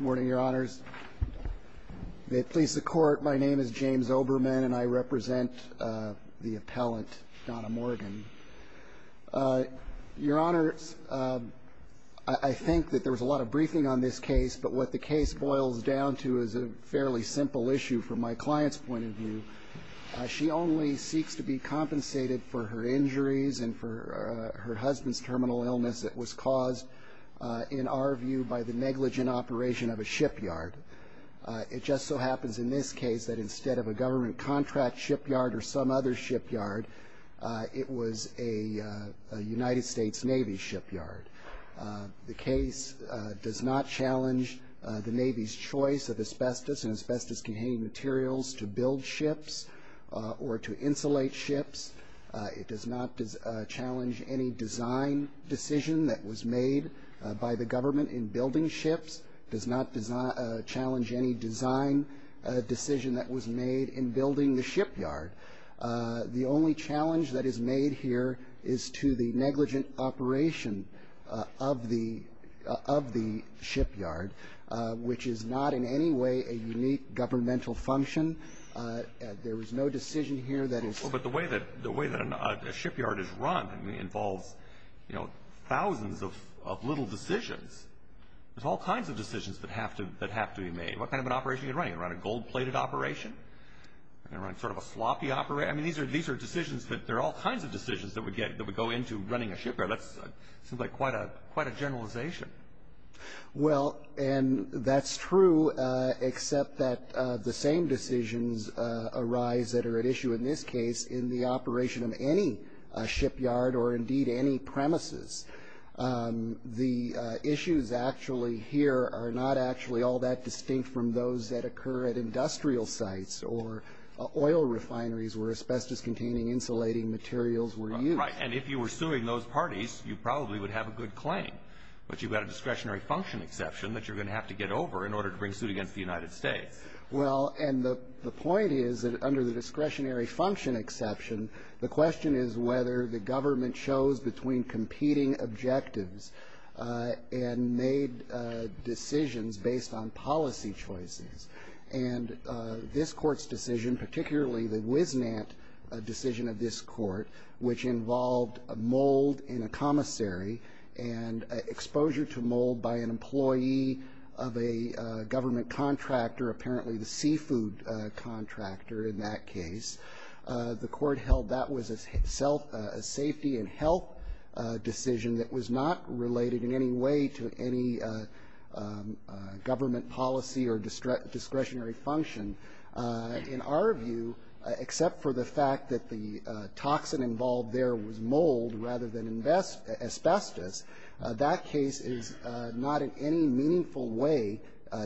Morning, Your Honors. It pleases the Court, my name is James Oberman and I represent the appellant Donna Morgan. Your Honor, I think that there was a lot of briefing on this case, but what the case boils down to is a fairly simple issue from my client's point of view. She only seeks to be compensated for her injuries and for her husband's terminal illness that was caused, in our view, by the negligent operation of a shipyard. It just so happens in this case that instead of a government contract shipyard or some other shipyard, it was a United States Navy shipyard. The case does not challenge the Navy's choice of asbestos and asbestos-containing materials to build ships or to insulate ships. It does not challenge any design decision that was made by the government in building ships. It does not challenge any design decision that was made in building the shipyard. The only challenge that is made here is to the negligent operation of the shipyard, which is not in any way a unique governmental function. There was no decision here that is ---- But the way that a shipyard is run involves, you know, thousands of little decisions. There's all kinds of decisions that have to be made. What kind of an operation are you running? Are you running a gold-plated operation? Are you running sort of a sloppy operation? I mean, these are decisions that there are all kinds of decisions that would go into running a shipyard. That seems like quite a generalization. Well, and that's true, except that the same decisions arise that are at issue in this case in the operation of any shipyard or, indeed, any premises. The issues actually here are not actually all that distinct from those that occur at industrial sites or oil refineries where asbestos-containing insulating materials were used. Right, and if you were suing those parties, you probably would have a good claim. But you've got a discretionary function exception that you're going to have to get over in order to bring suit against the United States. Well, and the point is that under the discretionary function exception, the question is whether the government chose between competing objectives and made decisions based on policy choices. And this Court's decision, particularly the Wisnant decision of this Court, which involved mold in a commissary and exposure to mold by an employee of a government contractor, apparently the seafood contractor in that case, the Court held that was a safety and health decision that was not related in any way to any government policy or discretionary function. In our view, except for the fact that the toxin involved there was mold rather than asbestos, that case is not in any meaningful way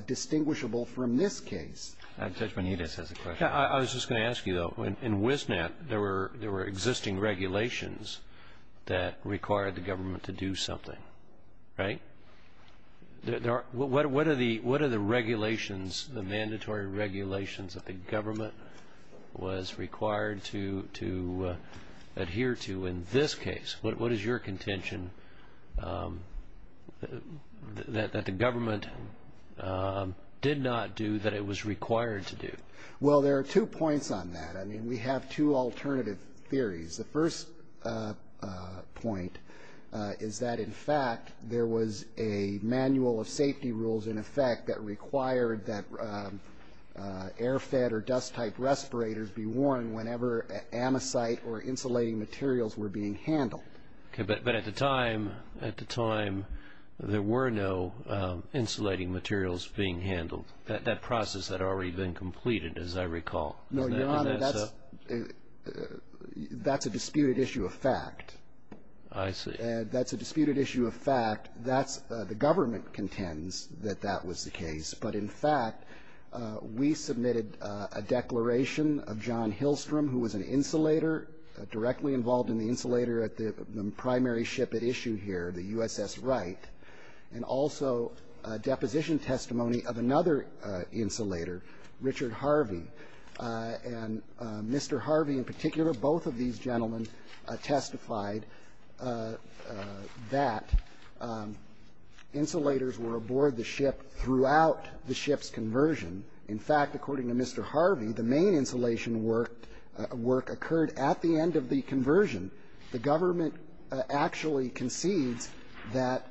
distinguishable from this case. Judge Bonitas has a question. I was just going to ask you, though. In Wisnant, there were existing regulations that required the government to do something. Right? What are the regulations, the mandatory regulations that the government was required to adhere to in this case? What is your contention that the government did not do that it was required to do? Well, there are two points on that. I mean, we have two alternative theories. The first point is that, in fact, there was a manual of safety rules in effect that required that air-fed or dust-type respirators be worn whenever amicite or insulating materials were being handled. Okay. But at the time, at the time, there were no insulating materials being handled. That process had already been completed, as I recall. No, Your Honor, that's a disputed issue of fact. I see. That's a disputed issue of fact. That's the government contends that that was the case. But, in fact, we submitted a declaration of John Hillstrom, who was an insulator, directly involved in the insulator at the primary ship at issue here, the USS Wright, and also a deposition testimony of another insulator, Richard Harvey. And Mr. Harvey, in particular, both of these gentlemen testified that insulators were aboard the ship throughout the ship's conversion. In fact, according to Mr. Harvey, the main insulation work occurred at the end of the conversion. The government actually concedes that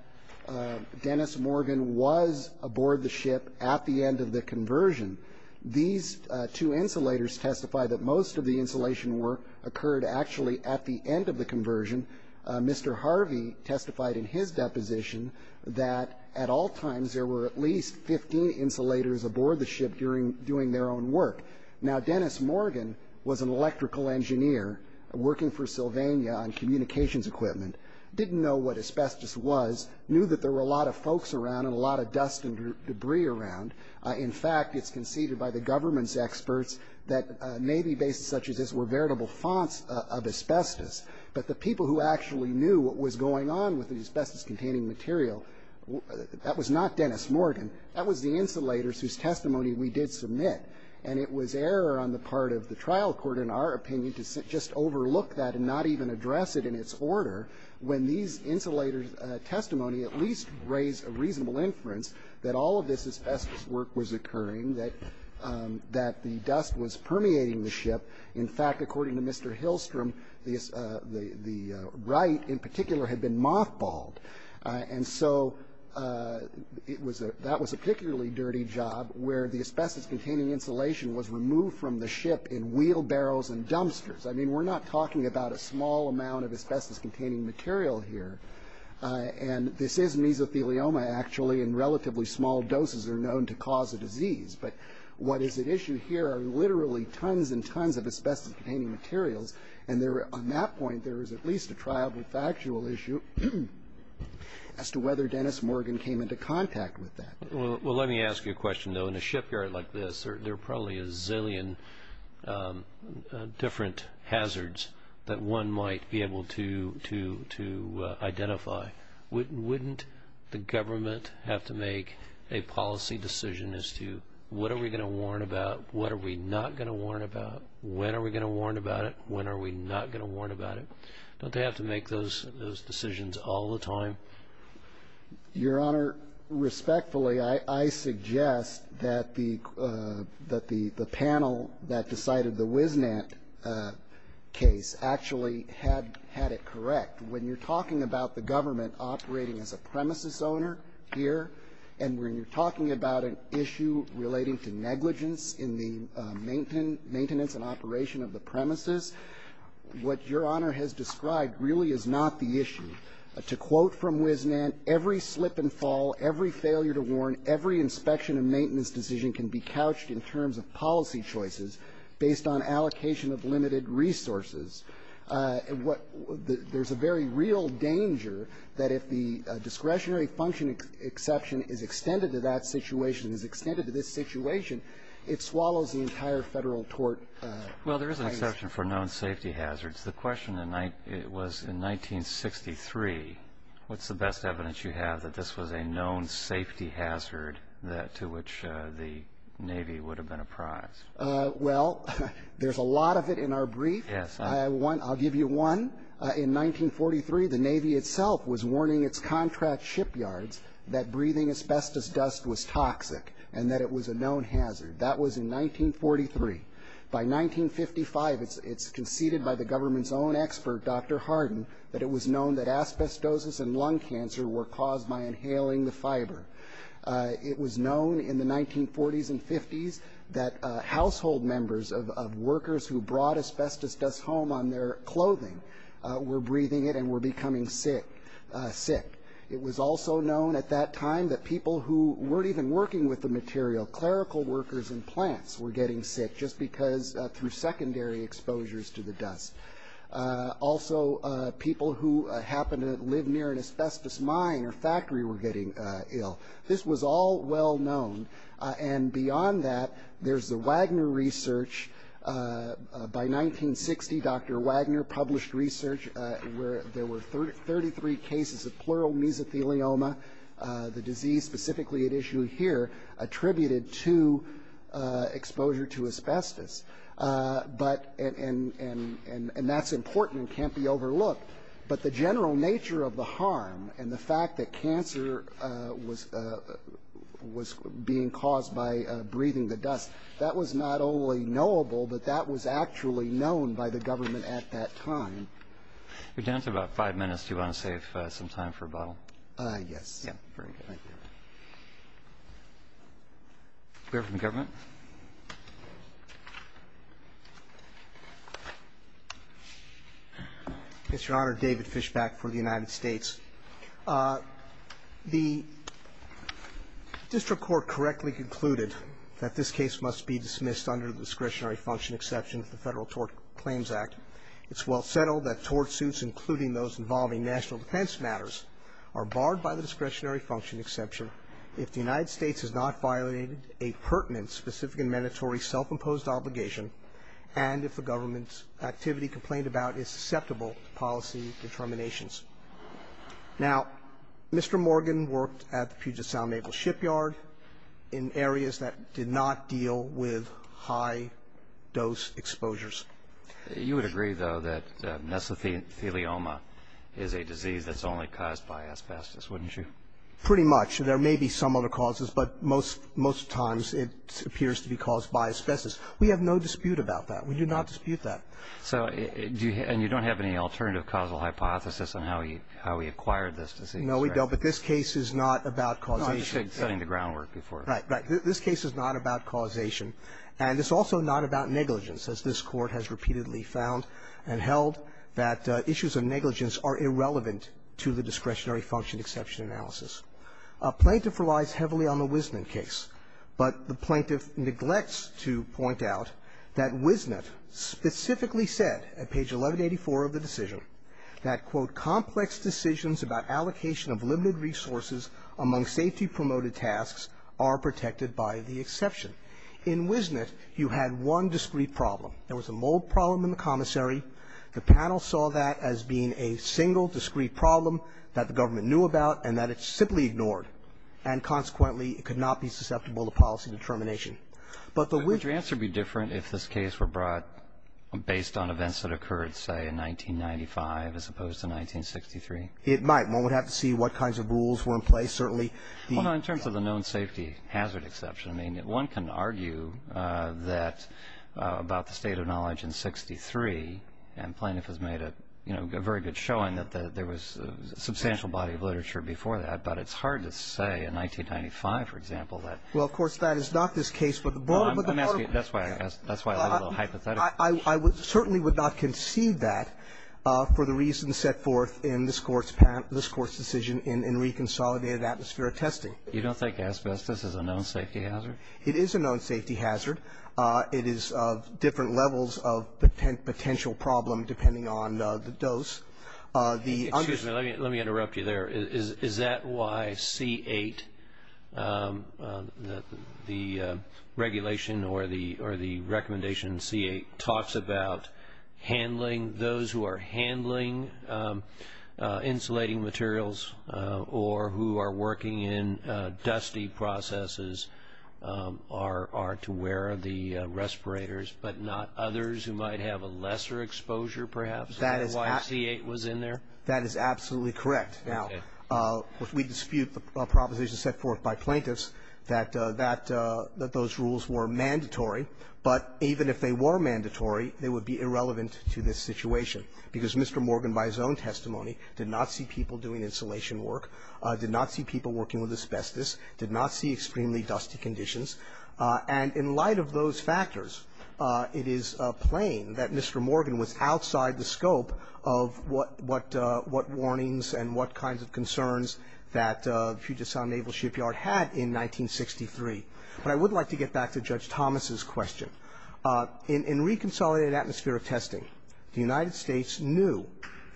Dennis Morgan was aboard the ship at the end of the conversion. These two insulators testify that most of the insulation work occurred actually at the end of the conversion. Mr. Harvey testified in his deposition that, at all times, there were at least 15 insulators aboard the ship during their own work. Now, Dennis Morgan was an electrical engineer working for Sylvania on communications equipment, didn't know what asbestos was, knew that there were a lot of folks around and a lot of dust and debris around. In fact, it's conceded by the government's experts that maybe bases such as this were veritable fonts of asbestos. But the people who actually knew what was going on with the asbestos-containing material, that was not Dennis Morgan. That was the insulators whose testimony we did submit. And it was error on the part of the trial court, in our opinion, to just overlook that and not even address it in its order when these insulators' testimony at least raised a reasonable inference that all of this asbestos work was occurring, that the dust was permeating the ship. In fact, according to Mr. Hillstrom, the right, in particular, had been mothballed. And so that was a particularly dirty job, where the asbestos-containing insulation was removed from the ship in wheelbarrows and dumpsters. I mean, we're not talking about a small amount of asbestos-containing material here. And this is mesothelioma, actually, and relatively small doses are known to cause a disease. But what is at issue here are literally tons and tons of asbestos-containing materials. And on that point, there is at least a triable factual issue as to whether Dennis Morgan came into contact with that. Well, let me ask you a question, though. In a shipyard like this, there are probably a zillion different hazards that one might be able to identify. Wouldn't the government have to make a policy decision as to what are we going to warn about, what are we not going to warn about, when are we going to warn about it, when are we not going to warn about it? Don't they have to make those decisions all the time? Your Honor, respectfully, I suggest that the panel that decided the WisNet case actually had it correct. When you're talking about the government operating as a premises owner here and when you're talking about an issue relating to negligence in the maintenance and operation of the premises, what Your Honor has described really is not the issue. To quote from WisNet, every slip and fall, every failure to warn, every inspection and maintenance decision can be couched in terms of policy choices based on allocation of limited resources. There's a very real danger that if the discretionary function exception is extended to that situation, is extended to this situation, it swallows the entire Federal tort. Well, there is an exception for known safety hazards. The question was in 1963, what's the best evidence you have that this was a known safety hazard to which the Navy would have been apprised? Well, there's a lot of it in our brief. Yes. I'll give you one. In 1943, the Navy itself was warning its contract shipyards that breathing asbestos dust was toxic and that it was a known hazard. That was in 1943. By 1955, it's conceded by the government's own expert, Dr. Hardin, that it was known that asbestosis and lung cancer were caused by inhaling the fiber. It was known in the 1940s and 50s that household members of workers who brought asbestos dust home on their clothing were breathing it and were becoming sick. It was also known at that time that people who weren't even working with the material, clerical workers and plants, were getting sick just because through secondary exposures to the dust. Also, people who happened to live near an asbestos mine or factory were getting ill. This was all well known. And beyond that, there's the Wagner research. By 1960, Dr. Wagner published research where there were 33 cases of pleural mesothelioma, the disease specifically at issue here, attributed to exposure to asbestos. And that's important and can't be overlooked. But the general nature of the harm and the fact that cancer was being caused by breathing the dust, that was not only knowable, but that was actually known by the government at that time. We're down to about five minutes. Do you want to save some time for a bottle? Yes. Yeah, very good. Thank you. We have some government. Yes, Your Honor. David Fishbach for the United States. The district court correctly concluded that this case must be dismissed under the discretionary function exception of the Federal Tort Claims Act. It's well settled that tort suits, including those involving national defense matters, are barred by the discretionary function exception if the United States has not violated a pertinent, specific, and mandatory self-imposed obligation, and if the government's activity complained about is susceptible to policy determinations. Now, Mr. Morgan worked at the Puget Sound Naval Shipyard in areas that did not deal with high-dose exposures. You would agree, though, that mesothelioma is a disease that's only caused by asbestos, wouldn't you? Pretty much. There may be some other causes, but most times it appears to be caused by asbestos. We have no dispute about that. We do not dispute that. So do you – and you don't have any alternative causal hypothesis on how he acquired this disease, right? No, we don't. But this case is not about causation. No, I'm just setting the groundwork before. Right, right. This case is not about causation, and it's also not about negligence, as this Court has repeatedly found and held that issues of negligence are irrelevant to the discretionary function exception analysis. A plaintiff relies heavily on the Wisnett case, but the plaintiff neglects to point out that Wisnett specifically said at page 1184 of the decision that, quote, In Wisnett, you had one discreet problem. There was a mold problem in the commissary. The panel saw that as being a single discreet problem that the government knew about and that it simply ignored, and consequently, it could not be susceptible to policy determination. But the Wisnett – Would your answer be different if this case were brought based on events that occurred, say, in 1995 as opposed to 1963? It might. One would have to see what kinds of rules were in place, certainly. Well, no, in terms of the known safety hazard exception, I mean, one can argue that about the state of knowledge in 63, and plaintiff has made a, you know, very good showing that there was a substantial body of literature before that, but it's hard to say in 1995, for example, that – Well, of course, that is not this case. Well, I'm asking – that's why I have a little hypothetical. I certainly would not conceive that for the reasons set forth in this Court's decision in reconsolidated atmospheric testing. You don't think asbestos is a known safety hazard? It is a known safety hazard. It is different levels of potential problem depending on the dose. Excuse me. Let me interrupt you there. Is that why C-8, the regulation or the recommendation C-8, talks about handling – those who are handling insulating materials or who are working in dusty processes are to wear the respirators but not others who might have a lesser exposure, perhaps? Is that why C-8 was in there? That is absolutely correct. Now, we dispute the proposition set forth by plaintiffs that that – that those rules were mandatory, but even if they were mandatory, they would be irrelevant to this situation because Mr. Morgan, by his own testimony, did not see people doing insulation work, did not see people working with asbestos, did not see extremely dusty conditions, and in light of those factors, it is plain that Mr. Morgan was outside the scope of what – what warnings and what kinds of concerns that the Puget Sound Naval Shipyard had in 1963. But I would like to get back to Judge Thomas's question. In reconsolidated atmosphere of testing, the United States knew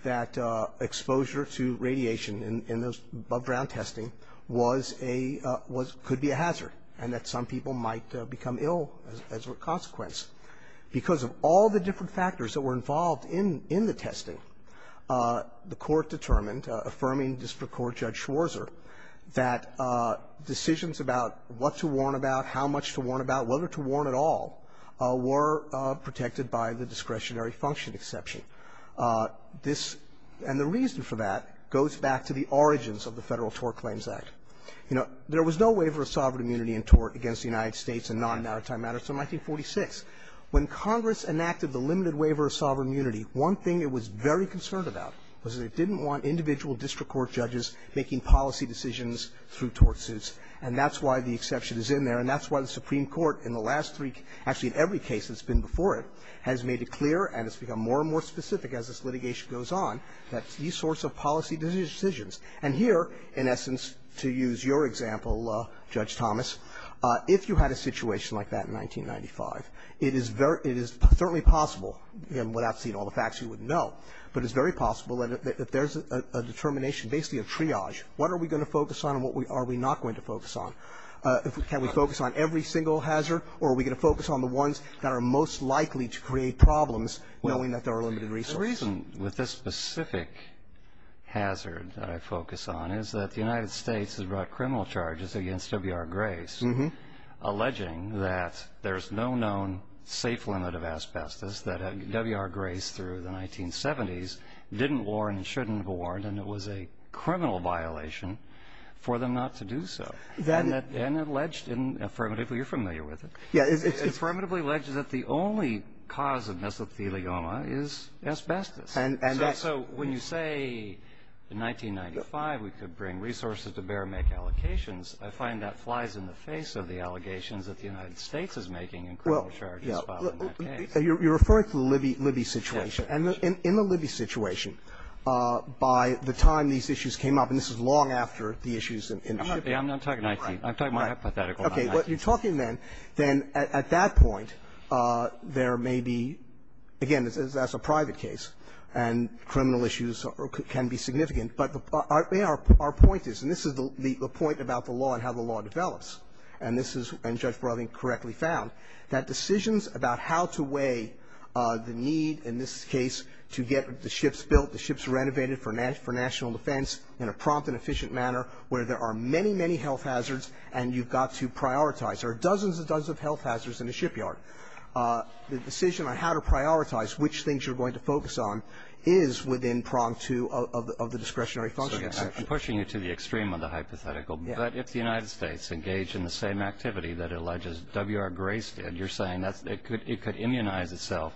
that exposure to radiation in those above-ground testing was a – was – could be a hazard and that some people might become ill as a consequence. Because of all the different factors that were involved in – in the testing, the Court determined, affirming District Court Judge Schwarzer, that decisions about what to warn about, how much to warn about, whether to warn at all, were protected by the discretionary function exception. This – and the reason for that goes back to the origins of the Federal Tort Claims Act. You know, there was no waiver of sovereign immunity in tort against the United States in 1946. When Congress enacted the limited waiver of sovereign immunity, one thing it was very concerned about was that it didn't want individual district court judges making policy decisions through tort suits. And that's why the exception is in there, and that's why the Supreme Court, in the last three – actually, in every case that's been before it, has made it clear, and it's become more and more specific as this litigation goes on, that these sorts of policy decisions – and here, in essence, to use your example, Judge Thomas, if you had a situation like that in 1995, it is very – it is certainly possible – and without seeing all the facts, you wouldn't know – but it's very possible that if there's a determination, basically a triage, what are we going to focus on and what are we not going to focus on? Can we focus on every single hazard, or are we going to focus on the ones that are most likely to create problems knowing that there are limited resources? Well, the reason with this specific hazard that I focus on is that the United States, alleging that there's no known safe limit of asbestos, that W.R. Grace through the 1970s didn't warn and shouldn't have warned, and it was a criminal violation for them not to do so. And it alleged, and affirmatively – you're familiar with it – it affirmatively alleged that the only cause of mesothelioma is asbestos. And so when you say in 1995 we could bring resources to bear and make allocations, I find that flies in the face of the allegations that the United States is making in criminal charges following that case. Well, yeah. You're referring to the Libby situation. Yes. And in the Libby situation, by the time these issues came up – and this is long after the issues in Libya. I'm not talking 19 – I'm talking hypothetical 19. Okay. Well, you're talking then – then at that point, there may be – again, that's a private case, and criminal issues can be significant. But our point is – and this is the point about the law and how the law develops, and this is – and Judge Brothering correctly found – that decisions about how to weigh the need in this case to get the ships built, the ships renovated for national defense in a prompt and efficient manner where there are many, many health hazards and you've got to prioritize. There are dozens and dozens of health hazards in a shipyard. The decision on how to prioritize which things you're going to focus on is within prong two of the discretionary function. So again, I'm pushing you to the extreme of the hypothetical. Yeah. But if the United States engaged in the same activity that alleges W.R. Grace did, you're saying that's – it could immunize itself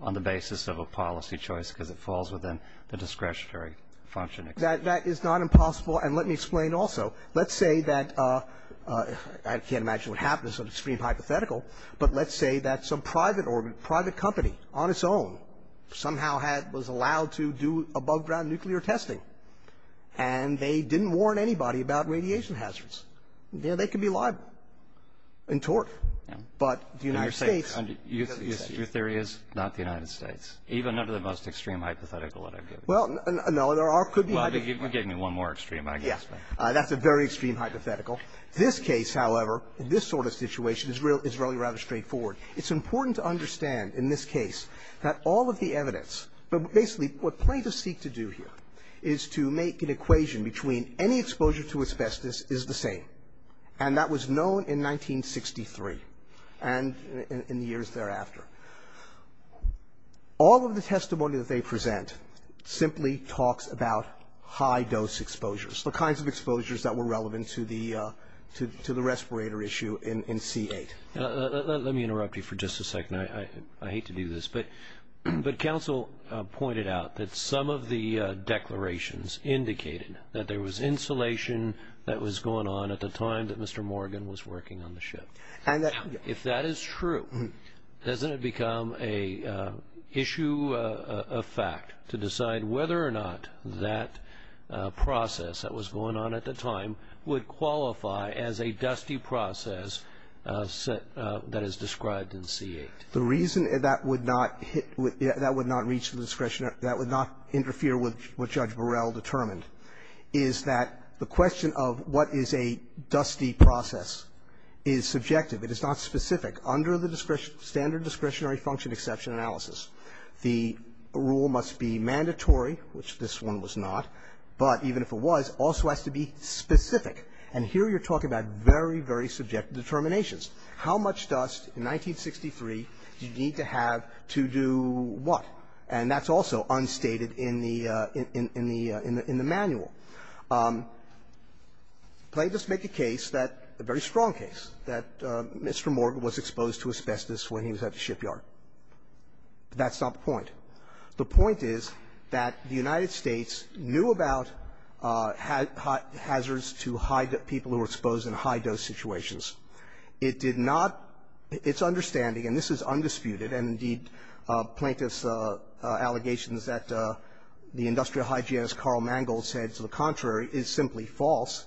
on the basis of a policy choice because it falls within the discretionary function. That is not impossible. And let me explain also. Let's say that – I can't imagine what happens in an extreme hypothetical, but let's say that some private company on its own somehow was allowed to do above-ground nuclear testing and they didn't warn anybody about radiation hazards. They can be liable in tort. But the United States – Your theory is not the United States, even under the most extreme hypothetical that I've given you. Well, no, there are – Well, you gave me one more extreme, I guess. That's a very extreme hypothetical. This case, however, in this sort of situation, is really rather straightforward. It's important to understand in this case that all of the evidence – but basically what plaintiffs seek to do here is to make an equation between any exposure to asbestos is the same. And that was known in 1963 and in the years thereafter. All of the testimony that they present simply talks about high-dose exposures, the kinds of exposures that were relevant to the respirator issue in C-8. Let me interrupt you for just a second. I hate to do this, but counsel pointed out that some of the declarations indicated that there was insulation that was going on at the time that Mr. Morgan was working on the ship. If that is true, doesn't it become an issue of fact to decide whether or not that process that was going on at the time would qualify as a dusty process that is described in C-8? The reason that would not hit – that would not reach the discretionary – that would not interfere with what Judge Burrell determined is that the question of what is a dusty process is subjective. It is not specific. Under the standard discretionary function exception analysis, the rule must be mandatory, which this one was not, but even if it was, also has to be specific. And here you're talking about very, very subjective determinations. How much dust in 1963 do you need to have to do what? And that's also unstated in the – in the manual. Let's just make a case that – a very strong case that Mr. Morgan was exposed to asbestos when he was at the shipyard. That's not the point. The point is that the United States knew about hazards to high – people who were exposed in high-dose situations. It did not – its understanding – and this is undisputed, and indeed, plaintiffs' allegations that the industrial hygienist Carl Mangold said to the contrary is simply false.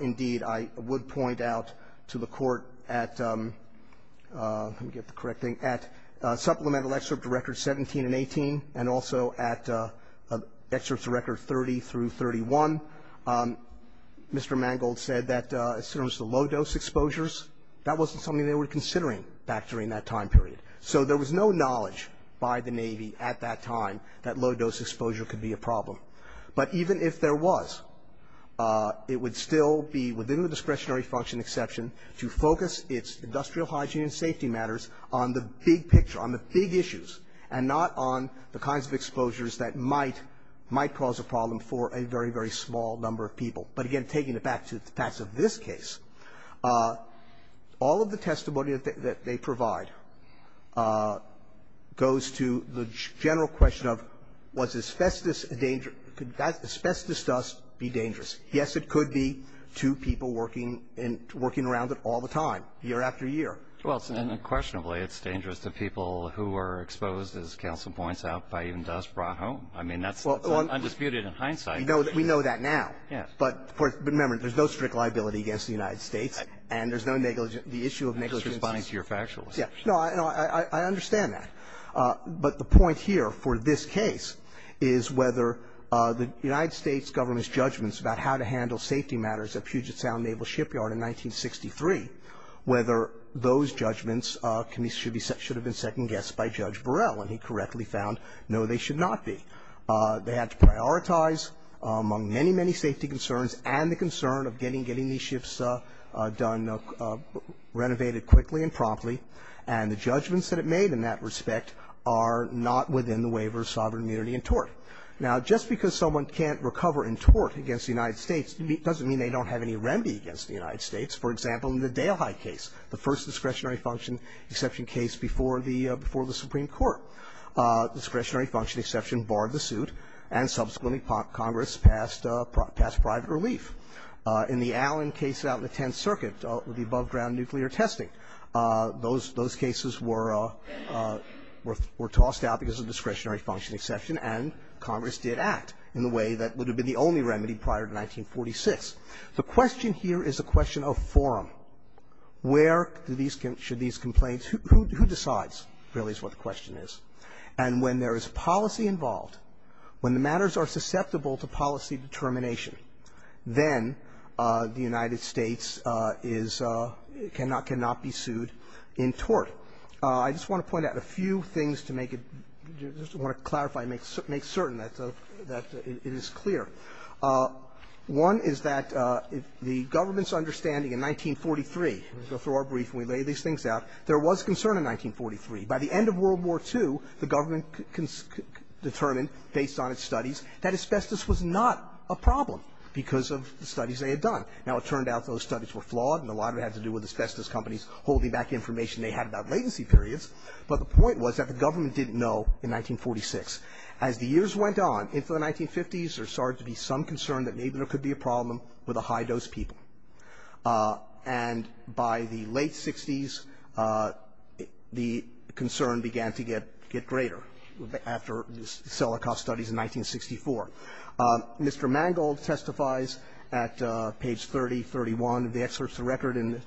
Indeed, I would point out to the Court at – let me go back to 2018 and also at excerpts of Record 30 through 31, Mr. Mangold said that as soon as the low-dose exposures, that wasn't something they were considering back during that time period. So there was no knowledge by the Navy at that time that low-dose exposure could be a problem. But even if there was, it would still be within the discretionary function exception to focus its industrial hygiene and safety matters on the big picture, on the big issues, and not on the kinds of exposures that might – might cause a problem for a very, very small number of people. But again, taking it back to the facts of this case, all of the testimony that they provide goes to the general question of, was asbestos a danger? Could asbestos dust be dangerous? Yes, it could be to people working in – working around it all the time, year after year. Well, and unquestionably, it's dangerous to people who are exposed, as counsel points out, by even dust brought home. I mean, that's undisputed in hindsight. We know that now. Yes. But remember, there's no strict liability against the United States, and there's no negligence – the issue of negligence is – I'm just responding to your factual question. No, I understand that. But the point here for this case is whether the United States government's judgments about how to handle safety matters at Puget Sound Naval Shipyard in 1963, whether those judgments should have been second-guessed by Judge Burrell. And he correctly found, no, they should not be. They had to prioritize among many, many safety concerns and the concern of getting these ships done – renovated quickly and promptly. And the judgments that it made in that respect are not within the waiver of sovereign immunity and tort. Now, just because someone can't recover in tort against the United States doesn't mean they don't have any remedy against the United States. For example, in the Dale Hyde case, the first discretionary function exception case before the – before the Supreme Court, discretionary function exception barred the suit, and subsequently, Congress passed – passed private relief. In the Allen case out in the Tenth Circuit, the above-ground nuclear testing, those – those cases were – were tossed out because of discretionary function exception, and Congress did act in the way that would have been the only remedy prior to 1946. The question here is a question of forum. Where do these – should these complaints – who – who decides, really, is what the question is. And when there is policy involved, when the matters are susceptible to policy determination, then the United States is – cannot – cannot be sued in tort. I just want to point out a few things to make it – just want to clarify a few things before I make – make certain that the – that it is clear. One is that the government's understanding in 1943 – let's go through our brief and we lay these things out – there was concern in 1943. By the end of World War II, the government determined, based on its studies, that asbestos was not a problem because of the studies they had done. Now, it turned out those studies were flawed, and a lot of it had to do with asbestos companies holding back information they had about latency periods, but the point was that the government didn't know in 1946. As the years went on, into the 1950s, there started to be some concern that maybe there could be a problem with the high-dose people. And by the late 60s, the concern began to get – get greater after the Selleckoff studies in 1964. Mr. Mangold testifies at page 3031 of the excerpts of the record in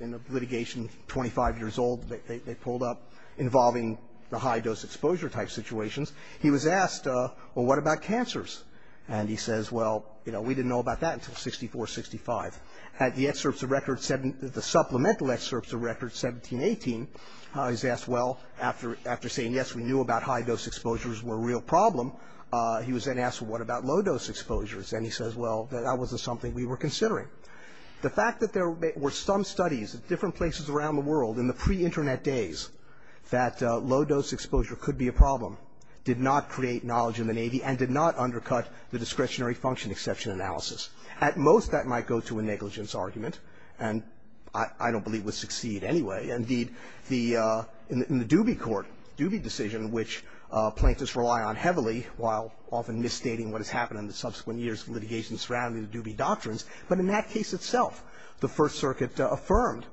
the litigation 25 years old they pulled up involving the high-dose exposure type situations. He was asked, well, what about cancers? And he says, well, you know, we didn't know about that until 64, 65. At the excerpts of record – the supplemental excerpts of record 17, 18, he's asked, well, after saying yes, we knew about high-dose exposures were a real problem, he was then asked, well, what about low-dose exposures? And he says, well, that wasn't something we were considering. The fact that there were some studies at different places around the world in the pre-Internet days that low-dose exposure could be a problem did not create knowledge in the Navy and did not undercut the discretionary function exception analysis. At most, that might go to a negligence argument, and I don't believe would succeed anyway. Indeed, the – in the Dubey court, Dubey decision, which plaintiffs rely on heavily while often misstating what has happened in the subsequent years of litigation surrounding the Dubey doctrines, but in that case itself, the First Circuit affirmed,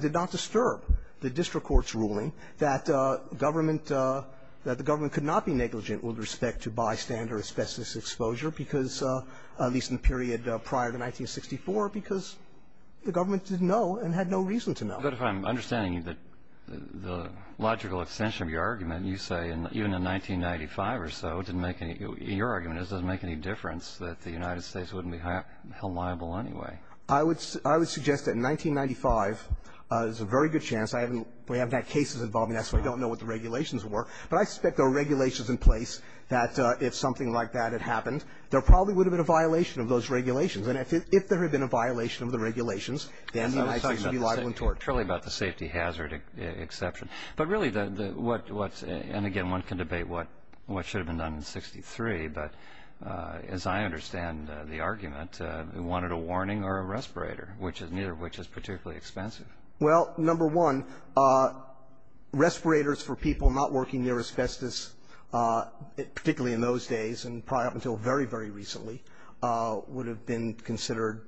did not disturb the district court's ruling that government – that the government could not be negligent with respect to bystander asbestos exposure because, at least in the period prior to 1964, because the government didn't know and had no reason to know. But if I'm understanding that the logical extension of your argument, you say, even in 1995 or so, didn't make any – your argument is it doesn't make any difference that the United States wouldn't be held liable anyway. I would – I would suggest that in 1995, there's a very good chance. I haven't – we haven't had cases involving that, so I don't know what the regulations were. But I suspect there were regulations in place that, if something like that had happened, there probably would have been a violation of those regulations. And if there had been a violation of the regulations, then the United States would be liable in tort. It's really about the safety hazard exception. But really, the – what's – and, again, one can debate what should have been done in 1963, but as I understand the argument, we wanted a warning or a respirator, which is – neither of which is particularly expensive. Well, number one, respirators for people not working near asbestos, particularly in those days and probably up until very, very recently, would have been considered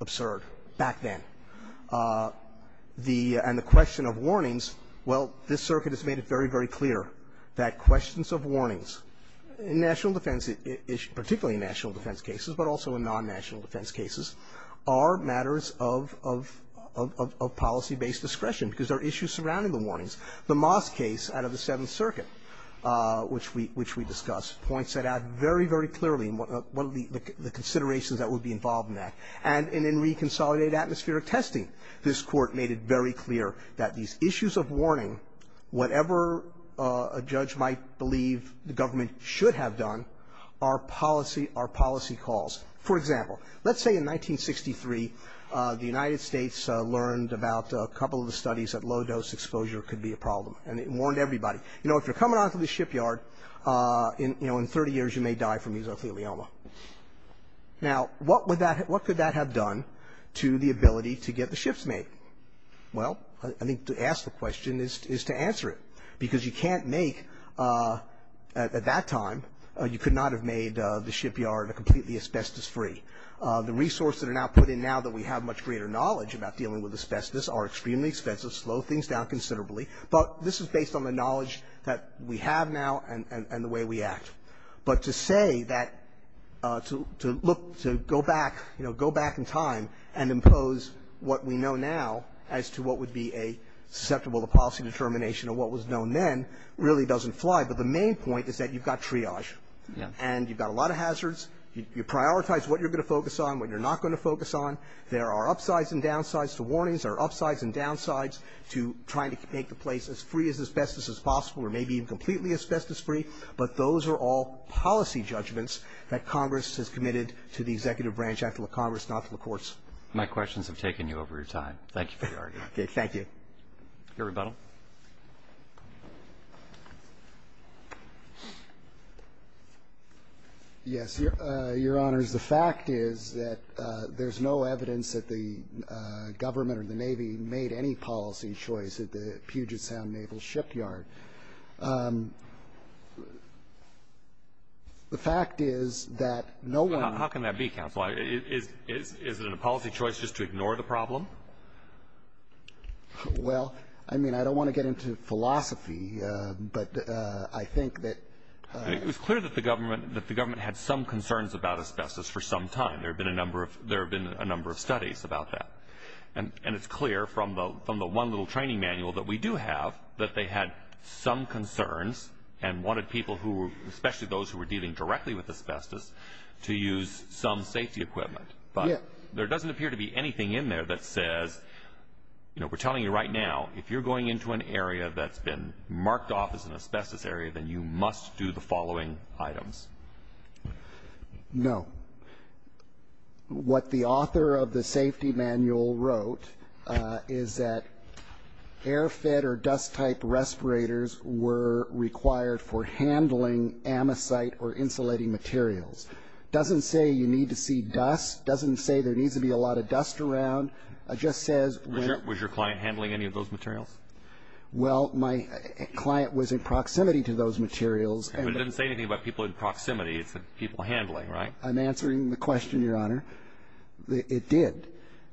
absurd back then. The – and the question of warnings, well, this circuit has made it very, very clear that questions of warnings in national defense, particularly in national defense cases, but also in non-national defense cases, are matters of – of policy-based discretion because there are issues surrounding the warnings. The Moss case out of the Seventh Circuit, which we – which we discussed, points that out very, very clearly in what – the considerations that would be involved in that. And in Reconsolidated Atmospheric Testing, this Court made it very clear that these issues of warning, whatever a judge might believe the government should have done, are policy – are policy calls. For example, let's say in 1963, the United States learned about a couple of the studies that low-dose exposure could be a problem, and it warned everybody. You know, if you're 20 years, you may die from mesothelioma. Now, what would that – what could that have done to the ability to get the ships made? Well, I think to ask the question is to answer it because you can't make – at that time, you could not have made the shipyard completely asbestos-free. The resources that are now put in now that we have much greater knowledge about dealing with asbestos are extremely expensive, slow things down considerably, but this is based on the knowledge that we have now and the way we act. But to say that – to look – to go back, you know, go back in time and impose what we know now as to what would be a susceptible policy determination of what was known then really doesn't fly. But the main point is that you've got triage. And you've got a lot of hazards. You prioritize what you're going to focus on, what you're not going to focus on. There are upsides and downsides to warnings. There are upsides and downsides to trying to make the place as free as asbestos as possible or maybe even completely asbestos-free. But those are all policy judgments that Congress has committed to the executive branch, after the Congress, not to the courts. My questions have taken you over your time. Thank you for your argument. Okay. Thank you. Your rebuttal. Yes, Your Honors. The fact is that there's no evidence that the government or the Navy made any policy choice at the Puget Sound Naval Shipyard. The fact is that no one – How can that be, counsel? Is it a policy choice just to ignore the problem? Well, I mean, I don't want to get into philosophy, but I think that – It was clear that the government had some concerns about asbestos for some time. There have been a number of studies about that. And it's clear from the one little training manual that we do have that they had some concerns and wanted people, especially those who were dealing directly with asbestos, to use some safety equipment. But there doesn't appear to be anything in there that says – We're telling you right now, if you're going into an area that's been marked off as an asbestos area, then you must do the following items. No. What the author of the safety manual wrote is that air-fed or dust-type respirators were required for handling ammosite or insulating materials. It doesn't say you need to see dust. It doesn't say there needs to be a lot of dust around. It just says – Was your client handling any of those materials? Well, my client was in proximity to those materials. But it doesn't say anything about people in proximity. It's the people handling, right? I'm answering the question, Your Honor. It did.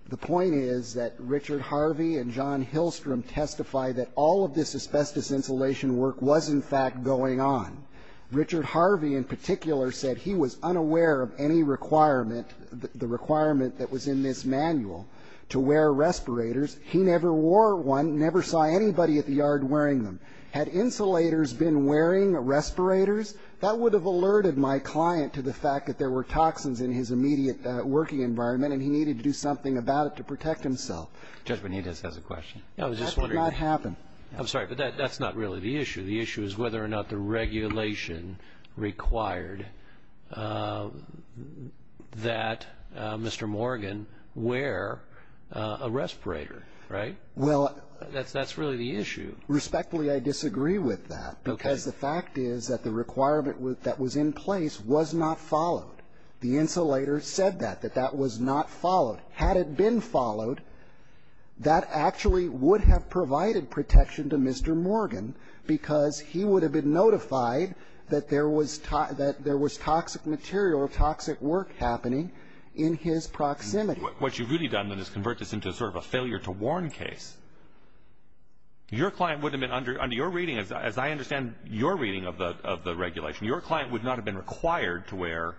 The point is that Richard Harvey and John Hillstrom testified that all of this asbestos insulation work was, in fact, going on. Richard Harvey, in particular, said he was unaware of any requirement, the requirement that was in this manual, to wear respirators. He never wore one, never saw anybody at the yard wearing them. Had insulators been wearing respirators, that would have alerted my client to the fact that there were toxins in his immediate working environment, and he needed to do something about it to protect himself. Judge Benitez has a question. That did not happen. I'm sorry, but that's not really the issue. The issue is whether or not the regulation required that Mr. Morgan wear a respirator, right? That's really the issue. Respectfully, I disagree with that because the fact is that the requirement that was in place was not followed. The insulator said that, that that was not followed. Had it been followed, that actually would have provided protection to Mr. Morgan because he would have been notified that there was toxic material or toxic work happening in his proximity. What you've really done, then, is convert this into sort of a failure to warn case. Your client would have been, under your reading, as I understand your reading of the regulation, your client would not have been required to wear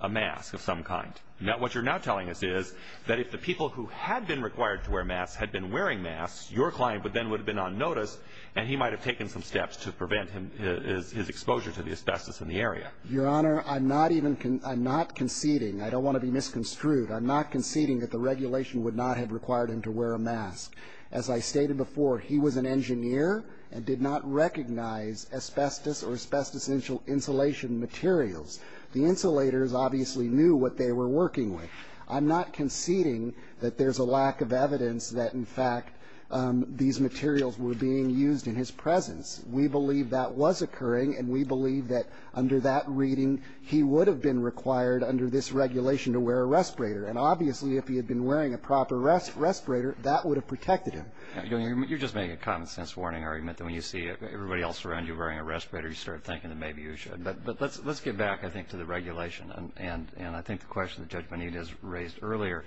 a mask of some kind. What you're now telling us is that if the people who had been required to wear masks had been wearing masks, your client then would have been on notice and he might have taken some steps to prevent his exposure to the asbestos in the area. Your Honor, I'm not conceding. I don't want to be misconstrued. I'm not conceding that the regulation would not have required him to wear a mask. As I stated before, he was an engineer and did not recognize asbestos or asbestos insulation materials. The insulators obviously knew what they were working with. I'm not conceding that there's a lack of evidence that, in fact, these materials were being used in his presence. We believe that was occurring, and we believe that, under that reading, he would have been required under this regulation to wear a respirator. And obviously, if he had been wearing a proper respirator, that would have protected him. You're just making a common-sense warning argument that when you see everybody else around you wearing a respirator, you start thinking that maybe you should. But let's get back, I think, to the regulation. And I think the question that Judge Bonita has raised earlier,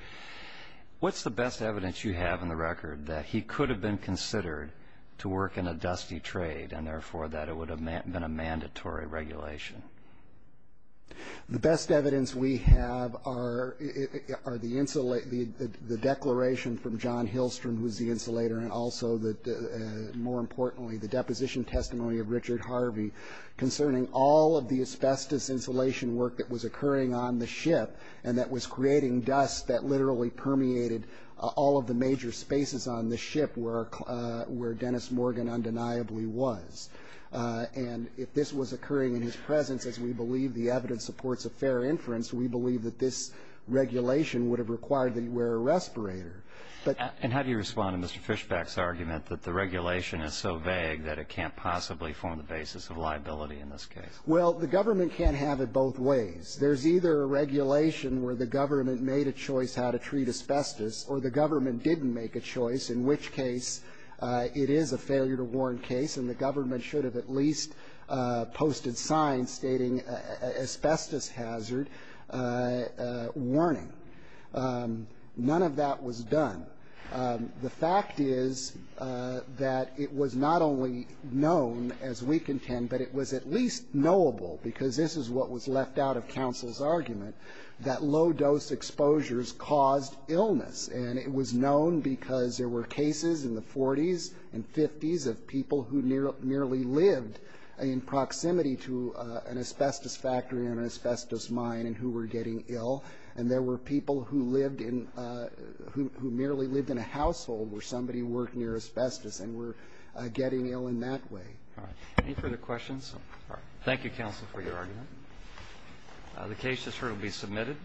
what's the best evidence you have in the record that he could have been considered to work in a dusty trade and, therefore, that it would have been a mandatory regulation? The best evidence we have are the declaration from John Hillstrom, who was the insulator, and also, more importantly, the deposition testimony of Richard Harvey concerning all of the asbestos insulation work that was occurring on the ship and that was creating dust that literally permeated all of the major spaces on the ship where Dennis Morgan undeniably was. And if this was occurring in his presence, as we believe the evidence supports a fair inference, we believe that this regulation would have required that he wear a respirator. And how do you respond to Mr. Fishback's argument that the regulation is so vague that it can't possibly form the basis of liability in this case? Well, the government can't have it both ways. There's either a regulation where the government made a choice how to treat asbestos or the government didn't make a choice, in which case it is a failure-to-warn case and the government should have at least posted signs stating asbestos hazard warning. None of that was done. The fact is that it was not only known, as we contend, but it was at least knowable, because this is what was left out of counsel's argument, that low-dose exposures caused illness. And it was known because there were cases in the 40s and 50s of people who nearly lived in proximity to an asbestos factory or an asbestos mine and who were getting ill, and there were people who merely lived in a household where somebody worked near asbestos and were getting ill in that way. Any further questions? Thank you, counsel, for your argument.